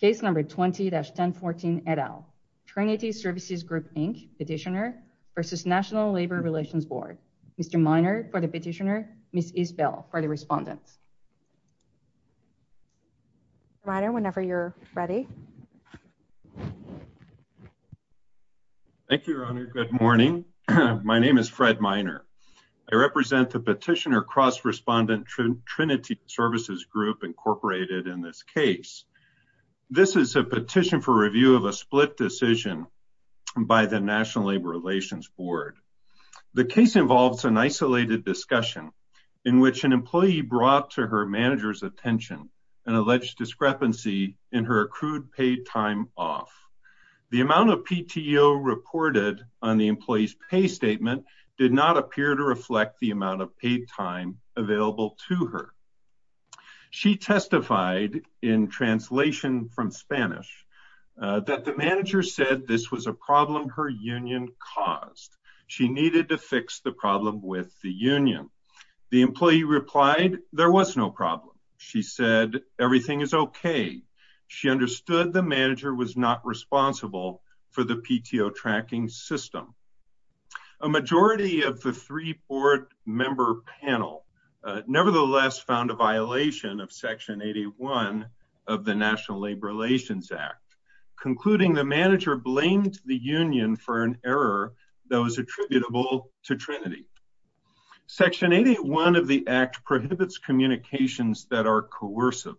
Case number 20-1014, et al. Trinity Services Group, Inc., petitioner v. National Labor Relations Board. Mr. Miner for the petitioner. Ms. Isbell for the respondent. Mr. Miner, whenever you're ready. Thank you, Your Honor. Good morning. My name is Fred Miner. I represent the petitioner v. National Labor Relations Board, Inc., Petitioner v. Trinity Services Group, Inc. This is a petition for review of a split decision by the National Labor Relations Board. The case involves an isolated discussion in which an employee brought to her manager's attention an alleged discrepancy in her accrued paid time off. The amount of PTO reported on the available to her. She testified in translation from Spanish that the manager said this was a problem her union caused. She needed to fix the problem with the union. The employee replied there was no problem. She said everything is okay. She understood the manager was not responsible for the PTO tracking system. A majority of the three board member panel nevertheless found a violation of section 81 of the National Labor Relations Act, concluding the manager blamed the union for an error that was attributable to Trinity. Section 81 of the act prohibits communications that are coercive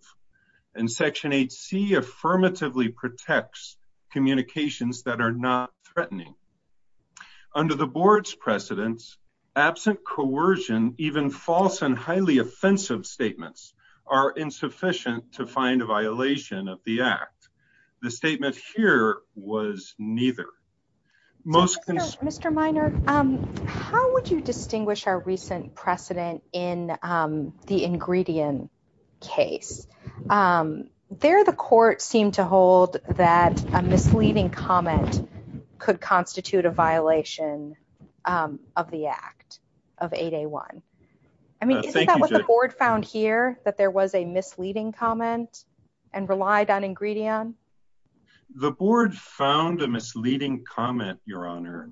and section 8c affirmatively protects communications that are not threatening. Under the board's precedents, absent coercion, even false and highly offensive statements are insufficient to find a violation of the act. The statement here was neither. Most Mr. Minor, how would you distinguish our recent precedent in the ingredient case? There, the court seemed to hold that a misleading comment could constitute a violation of the act of a day one. I mean, the board found here that there was a misleading comment and relied on ingredient. The board found a misleading comment, your honor,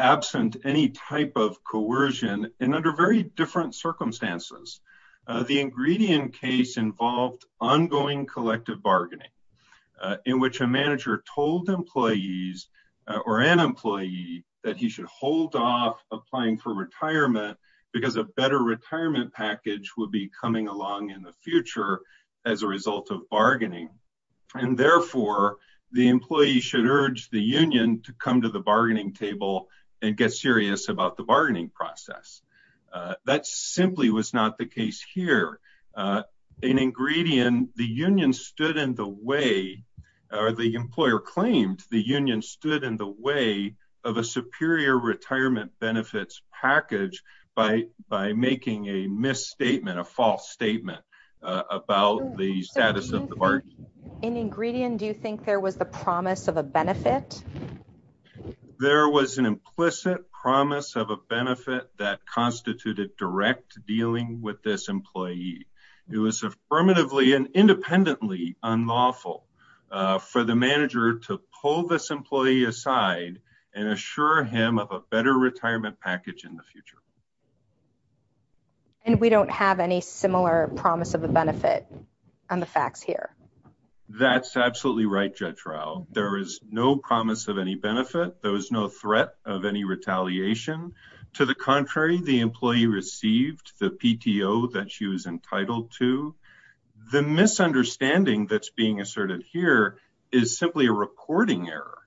absent any type of coercion and under very different circumstances. The ingredient case involved ongoing collective bargaining in which a manager told employees or an employee that he should hold off applying for retirement because a better retirement package would be coming along in the future as a result of bargaining. And therefore the employee should urge the union to come to the bargaining table and get serious about the bargaining process. That simply was not the case here. In ingredient, the union stood in the way, or the employer claimed the union stood in the way of a superior retirement benefits package by making a misstatement, a false statement about the status of the bargain. In ingredient, do you think there was the promise of a benefit? There was an implicit promise of a benefit that constituted direct dealing with this employee. It was affirmatively and independently unlawful for the manager to pull this employee aside and assure him of a better retirement package in the future. And we don't have any similar promise of a benefit on the facts here. That's absolutely right, Judge Rao. There is no promise of any benefit. There was no threat of any retaliation. To the contrary, the employee received the PTO that she was entitled to. The misunderstanding that's being asserted here is simply a reporting error.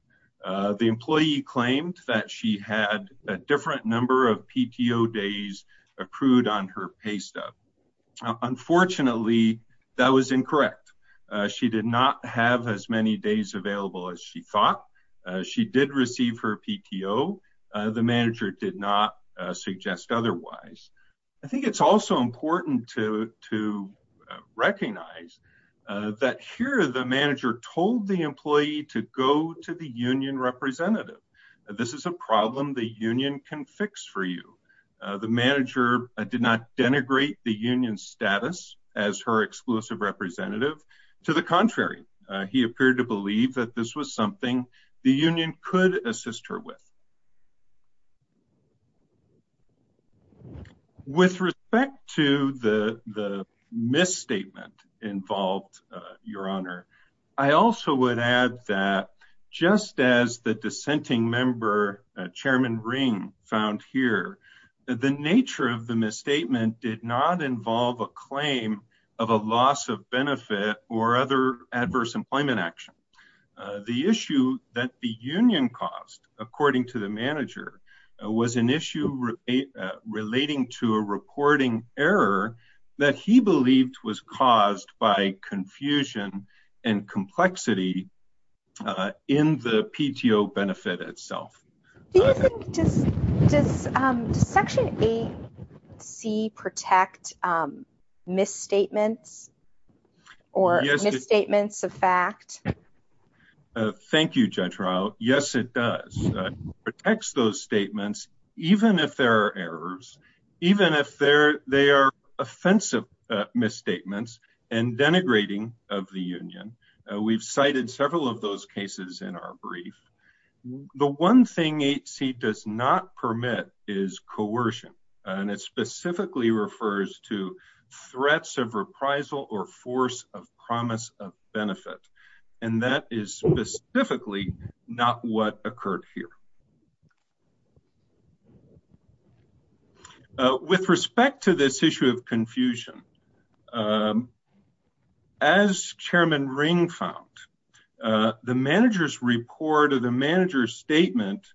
The employee claimed that she had a different number of PTO days accrued on her pay stub. Unfortunately, that was incorrect. She did not have as many days available as she thought. She did receive her PTO. The manager did not suggest otherwise. I think it's also important to recognize that here, the manager told the employee to go to the union representative. This is a problem the union can fix for you. The manager did not denigrate the union status as her exclusive representative. To the contrary, he appeared to believe that this was something the union could assist her with. With respect to the misstatement involved, Your Honor, I also would add that just as the dissenting member, Chairman Ring, found here, the nature of the misstatement did not involve a claim of a loss of benefit or other adverse employment action. The issue that the union caused, according to the manager, was an issue relating to a reporting error that he believed was caused by confusion and complexity in the PTO benefit itself. Do you think does Section 8C protect misstatements or misstatements of fact? Thank you, Judge Rao. Yes, it does. It protects those statements even if there are errors, even if they are offensive misstatements and denigrating of the union. We've cited several of those cases in our brief. The one thing 8C does not permit is coercion. It specifically refers to threats of reprisal or force of promise of benefit. That is specifically not what occurred here. With respect to this issue of confusion, as Chairman Ring found, the manager's report or the manager's statement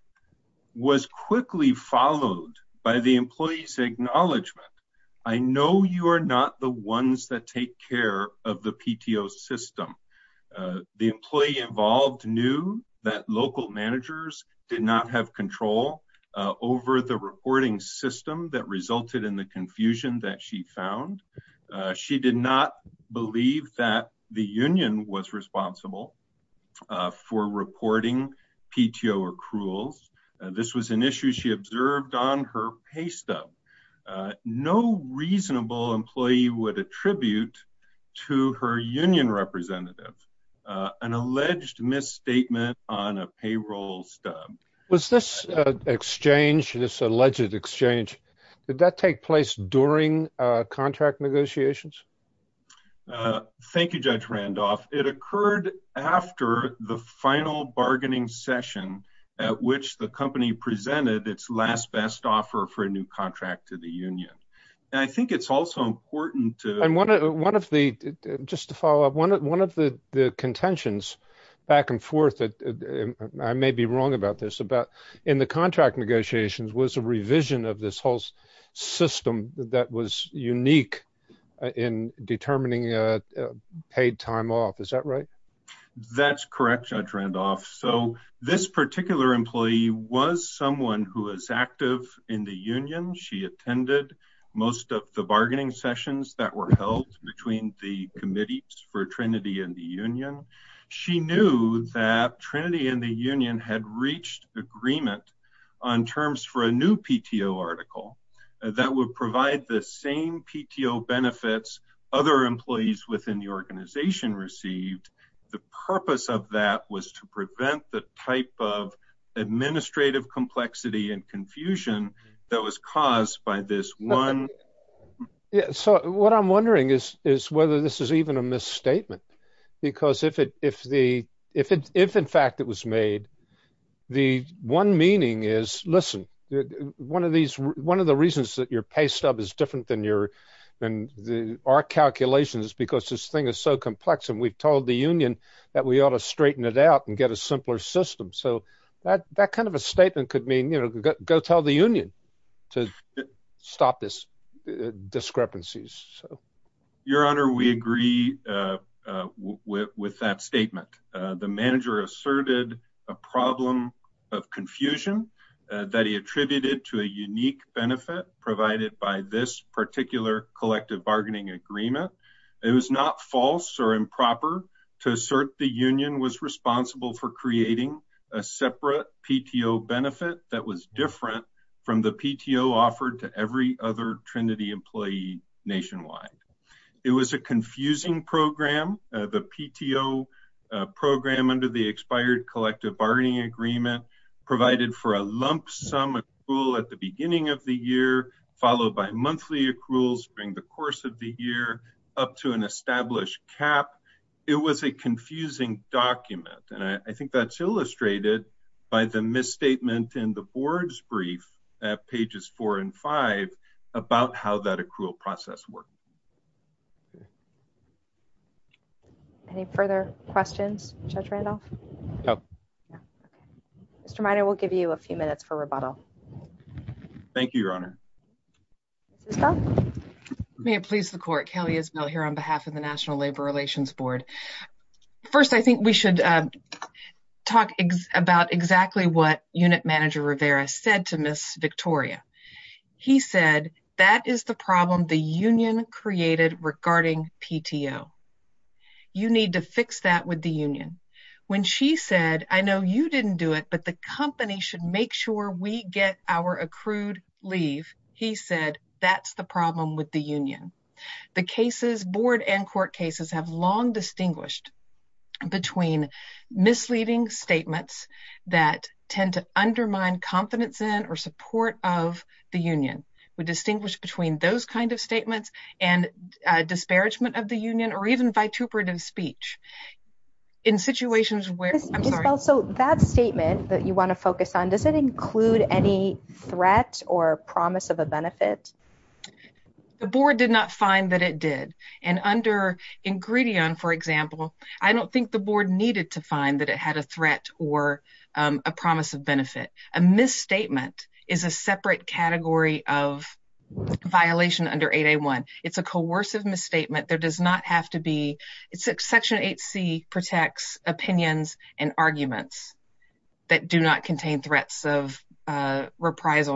was quickly followed by the employee's acknowledgement. I know you are that take care of the PTO system. The employee involved knew that local managers did not have control over the reporting system that resulted in the confusion that she found. She did not believe that the union was responsible for reporting PTO accruals. This was an issue she observed on her pay stub. No reasonable employee would attribute to her union representative an alleged misstatement on a payroll stub. Was this exchange, this alleged exchange, did that take place during contract negotiations? Thank you, Judge Randolph. It occurred after the bargaining session at which the company presented its last best offer for a new contract to the union. I think it's also important to... Just to follow up, one of the contentions, back and forth, I may be wrong about this, in the contract negotiations was a revision of this whole system that was unique in determining paid time off. Is that right? That's correct, Judge Randolph. This particular employee was someone who was active in the union. She attended most of the bargaining sessions that were held between the committees for Trinity and the union. She knew that Trinity and the union had reached agreement on terms for a new PTO article that would provide the same PTO benefits other employees within the organization received. The purpose of that was to prevent the type of administrative complexity and confusion that was caused by this one... What I'm wondering is whether this is even a misstatement, because if in fact it was made, the one meaning is, listen, one of the reasons that your pay stub is different than our calculations is because this thing is so complex and we've told the union that we ought to straighten it out and get a simpler system. That kind of a statement could go tell the union to stop this discrepancy. Your Honor, we agree with that statement. The manager asserted a problem of confusion that he attributed to a unique benefit provided by this particular collective bargaining agreement. It was not false or improper to assert the union was responsible for creating a separate PTO benefit that was different from the PTO offered to every other Trinity employee nationwide. It was a confusing program. The PTO program under the expired collective bargaining agreement provided for a lump sum accrual at the beginning of the year, followed by monthly accruals during the course of the year up to an established cap. It was a misstatement. I think that's illustrated by the misstatement in the board's brief at pages four and five about how that accrual process worked. Any further questions, Judge Randolph? Mr. Minor, we'll give you a few minutes for rebuttal. Thank you, Your Honor. May it please the court. Kelly Isbell here on behalf of the National Labor Relations Board. First, I think we should talk about exactly what unit manager Rivera said to Ms. Victoria. He said, that is the problem the union created regarding PTO. You need to fix that with the union. When she said, I know you didn't do it, but the company should make sure we get our accrued leave. He said, that's the problem with the union. The cases, board and court cases, have long distinguished between misleading statements that tend to undermine confidence in or support of the union. We distinguish between those kinds of statements and disparagement of the union or even vituperative speech in situations where- Ms. Isbell, so that statement that you want to focus on, does it include any threat or promise of a benefit? The board did not find that it did. And under Ingridion, for example, I don't think the board needed to find that it had a threat or a promise of benefit. A misstatement is a separate category of violation under 8A1. It's a coercive misstatement. There does not have to be... Section 8C protects opinions and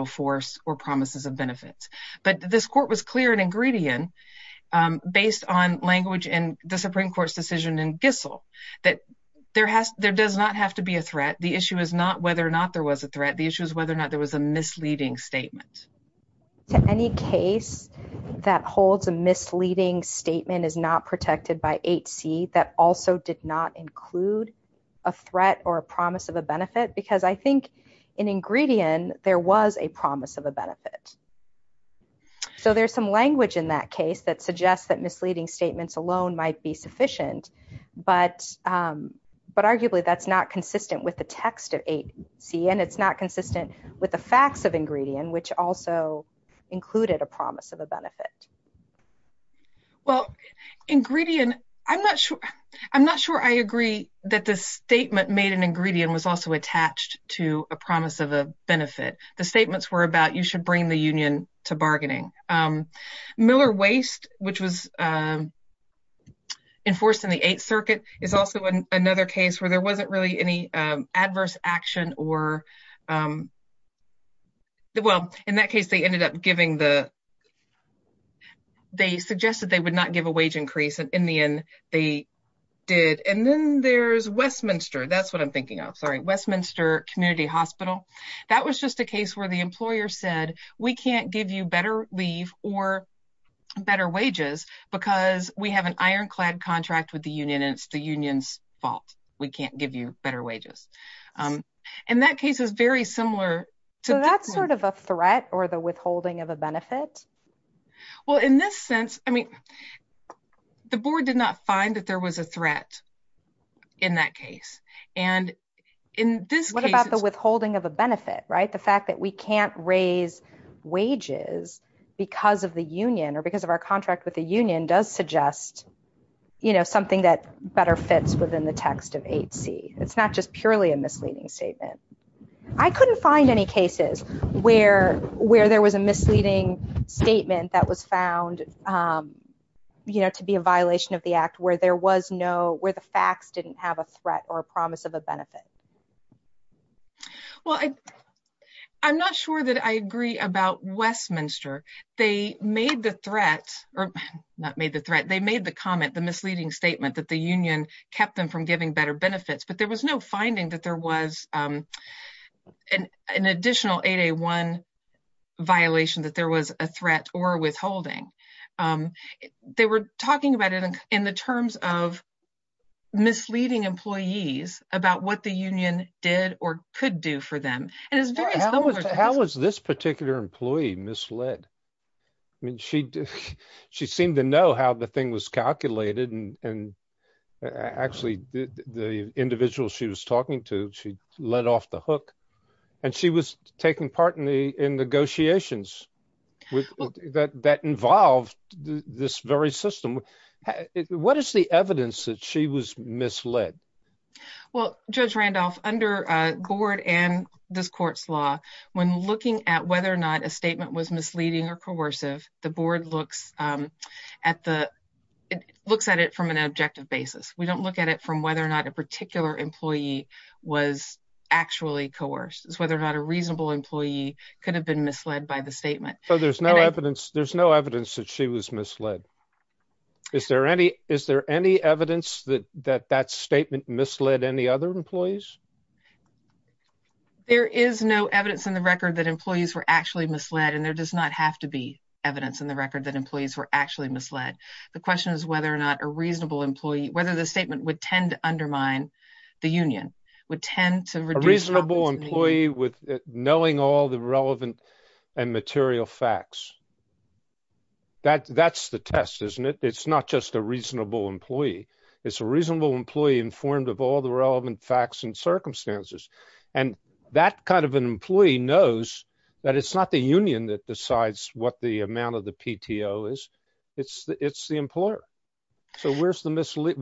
force or promises of benefits. But this court was clear in Ingridion, based on language in the Supreme Court's decision in Gissel, that there does not have to be a threat. The issue is not whether or not there was a threat. The issue is whether or not there was a misleading statement. To any case that holds a misleading statement is not protected by 8C, that also did not include a threat or a promise of a benefit. Because I think in Ingridion, there was a promise of a benefit. So there's some language in that case that suggests that misleading statements alone might be sufficient, but arguably that's not consistent with the text of 8C and it's not consistent with the facts of Ingridion, which also included a promise of a benefit. Well, Ingridion, I'm not sure I agree that the statement made in Ingridion was also a promise of a benefit. The statements were about you should bring the union to bargaining. Miller Waste, which was enforced in the Eighth Circuit, is also another case where there wasn't really any adverse action or... Well, in that case, they ended up giving the... They suggested they would not give a wage increase and in the end, they did. And then there's Westminster. That's what I'm thinking of. Sorry. Westminster Community Hospital. That was just a case where the employer said, we can't give you better leave or better wages because we have an ironclad contract with the union and it's the union's fault. We can't give you better wages. And that case is very similar to... So that's sort of a threat or the withholding of a benefit? Well, in this sense, I mean, the board did not find that there was a threat in that case. And in this case... What about the withholding of a benefit? The fact that we can't raise wages because of the union or because of our contract with the union does suggest something that better fits within the text of 8C. It's not just purely a misleading statement. I couldn't find any cases where there was a misleading statement that was found to be a violation of the act where there was no... Where the facts didn't have a threat or a promise of a benefit. Well, I'm not sure that I agree about Westminster. They made the threat, or not made the threat, they made the comment, the misleading statement that the union kept them from giving better benefits, but there was no finding that there was an additional 8A1 violation that there was a threat or withholding. They were talking about it in the terms of misleading employees about what the union did or could do for them. How was this particular employee misled? I mean, she seemed to know how the thing was calculated. And actually, the individual she was talking to, she let off the hook and she was taking part in negotiations that involved this very system. What is the evidence that she was misled? Well, Judge Randolph, under Gord and this court's law, when looking at whether or not a statement was misleading or coercive, the board looks at it from an objective basis. We don't look at it from whether or not a particular employee was actually coerced. It's whether or not a reasonable employee could have been misled by the statement. So there's no evidence that she was misled. Is there any evidence that that statement misled any other employees? There is no evidence in the record that employees were actually misled, and there does not have to be evidence in the record that employees were actually misled. The question is whether or not a reasonable employee, whether the statement would tend to undermine the union, would tend to reduce... A reasonable employee with knowing all the relevant and material facts. That's the test, isn't it? It's not just a reasonable employee. It's a reasonable employee informed of all the circumstances. And that kind of an employee knows that it's not the union that decides what the amount of the PTO is. It's the employer. So where's the mislead?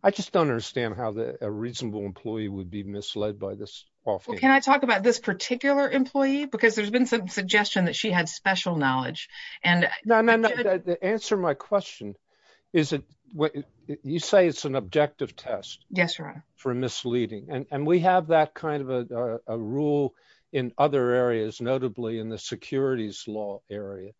I just don't understand how a reasonable employee would be misled by this. Well, can I talk about this particular employee? Because there's been some suggestion that she had special knowledge. No, no, no. The answer to my And we have that kind of a rule in other areas, notably in the securities law area.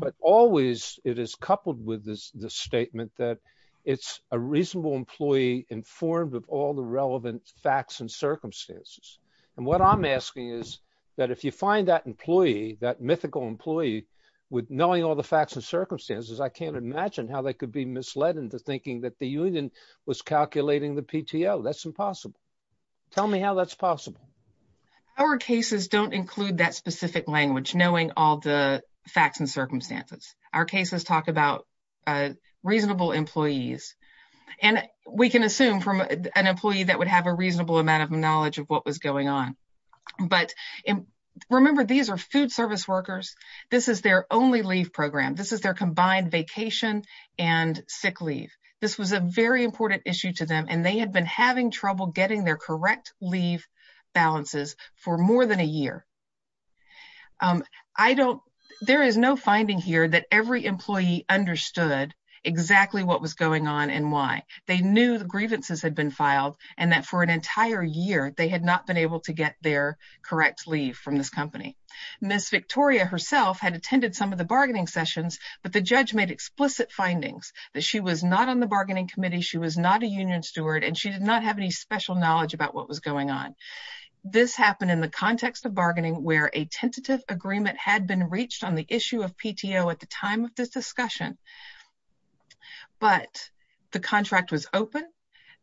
But always, it is coupled with this statement that it's a reasonable employee informed of all the relevant facts and circumstances. And what I'm asking is that if you find that employee, that mythical employee, with knowing all the facts and circumstances, I can't imagine how they could be misled into thinking that the union was calculating the PTO. That's impossible. Tell me how that's possible. Our cases don't include that specific language, knowing all the facts and circumstances. Our cases talk about reasonable employees. And we can assume from an employee that would have a reasonable amount of knowledge of what was going on. But remember, these are food service workers. This is their only leave program. This is their sick leave. This was a very important issue to them. And they had been having trouble getting their correct leave balances for more than a year. There is no finding here that every employee understood exactly what was going on and why. They knew the grievances had been filed and that for an entire year, they had not been able to get their correct leave from this company. Ms. Victoria herself had attended some of the bargaining sessions, but the judge made explicit findings that she was not on the bargaining committee, she was not a union steward, and she did not have any special knowledge about what was going on. This happened in the context of bargaining where a tentative agreement had been reached on the issue of PTO at the time of this discussion, but the contract was open.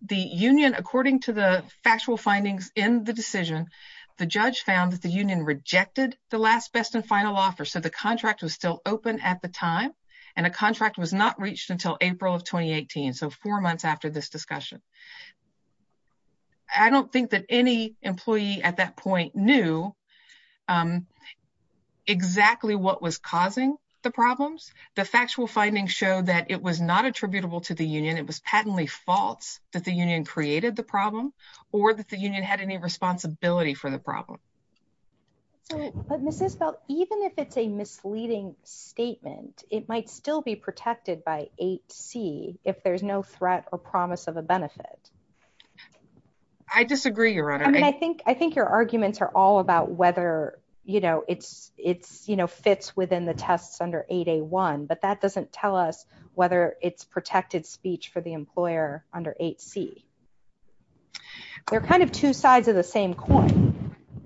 The union, according to the factual findings in the decision, the judge found that the union rejected the last, best, and final offer. So the contract was still open at the time, and a contract was not reached until April of 2018, so four months after this discussion. I don't think that any employee at that point knew exactly what was causing the problems. The factual findings show that it was not attributable to the union. It was patently false that the union created the problem or that the union had any responsibility for the problem. But Ms. Isbell, even if it's a misleading statement, it might still be protected by 8C if there's no threat or promise of a benefit. I disagree, Your Honor. I mean, I think your arguments are all about whether, you know, it fits within the tests under 8A1, but that doesn't tell us whether it's protected speech for the employer under 8C. They're kind of two sides of the same coin.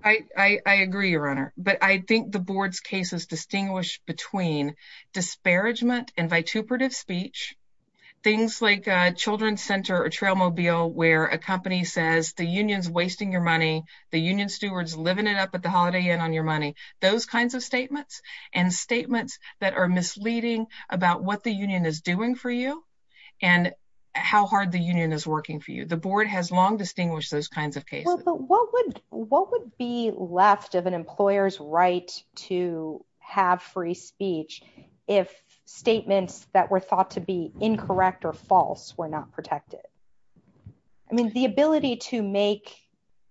I agree, Your Honor, but I think the board's cases distinguish between disparagement and vituperative speech, things like Children's Center or Trailmobile, where a company says the union's wasting your money, the union steward's living it up at the Holiday Inn on your money. Those kinds of statements and statements that are misleading about what the union is doing for you and how hard the union is working for you. The board has long distinguished those kinds of cases. Well, but what would be left of an employer's right to have free speech if statements that were thought to be incorrect or false were not protected? I mean, the ability to make,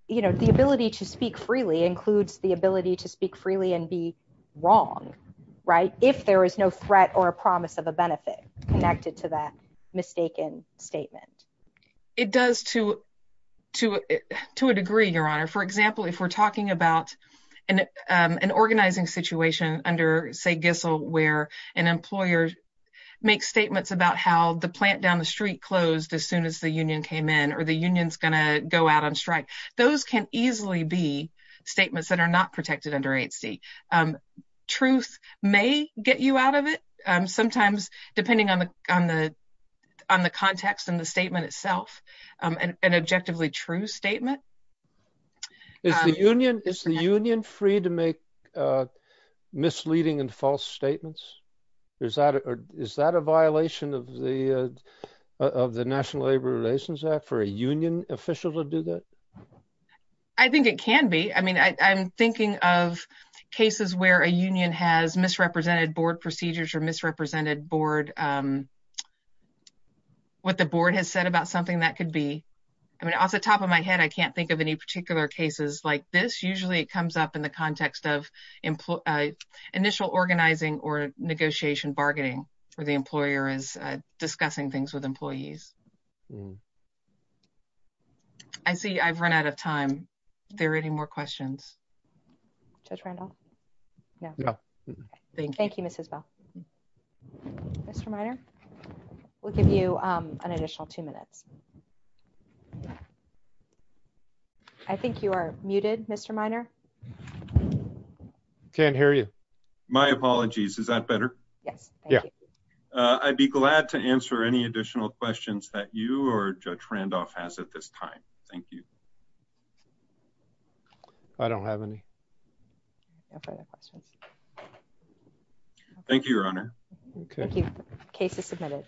you know, the ability to speak freely includes the ability to speak freely and be right if there is no threat or a promise of a benefit connected to that mistaken statement. It does to a degree, Your Honor. For example, if we're talking about an organizing situation under, say, Gissell, where an employer makes statements about how the plant down the street closed as soon as the union came in or the union's going to go out on truth may get you out of it, sometimes depending on the context and the statement itself, an objectively true statement. Is the union free to make misleading and false statements? Is that a violation of the National Labor Relations Act for a union official to do that? I think it can be. I mean, I'm thinking of cases where a union has misrepresented board procedures or misrepresented board, what the board has said about something that could be. I mean, off the top of my head, I can't think of any particular cases like this. Usually, it comes up in the context of initial organizing or negotiation bargaining where the employer is discussing things with employees. I see I've run out of time. There any more questions? Judge Randolph? No. Thank you, Mrs. Bell. Mr. Minor, we'll give you an additional two minutes. I think you are muted, Mr. Minor. Can't hear you. My apologies. Is that better? Yes. Yeah. I'd be glad to answer any additional questions that you or Judge Randolph has at this time. Thank you. I don't have any questions. Thank you, Your Honor. Thank you. Case is submitted.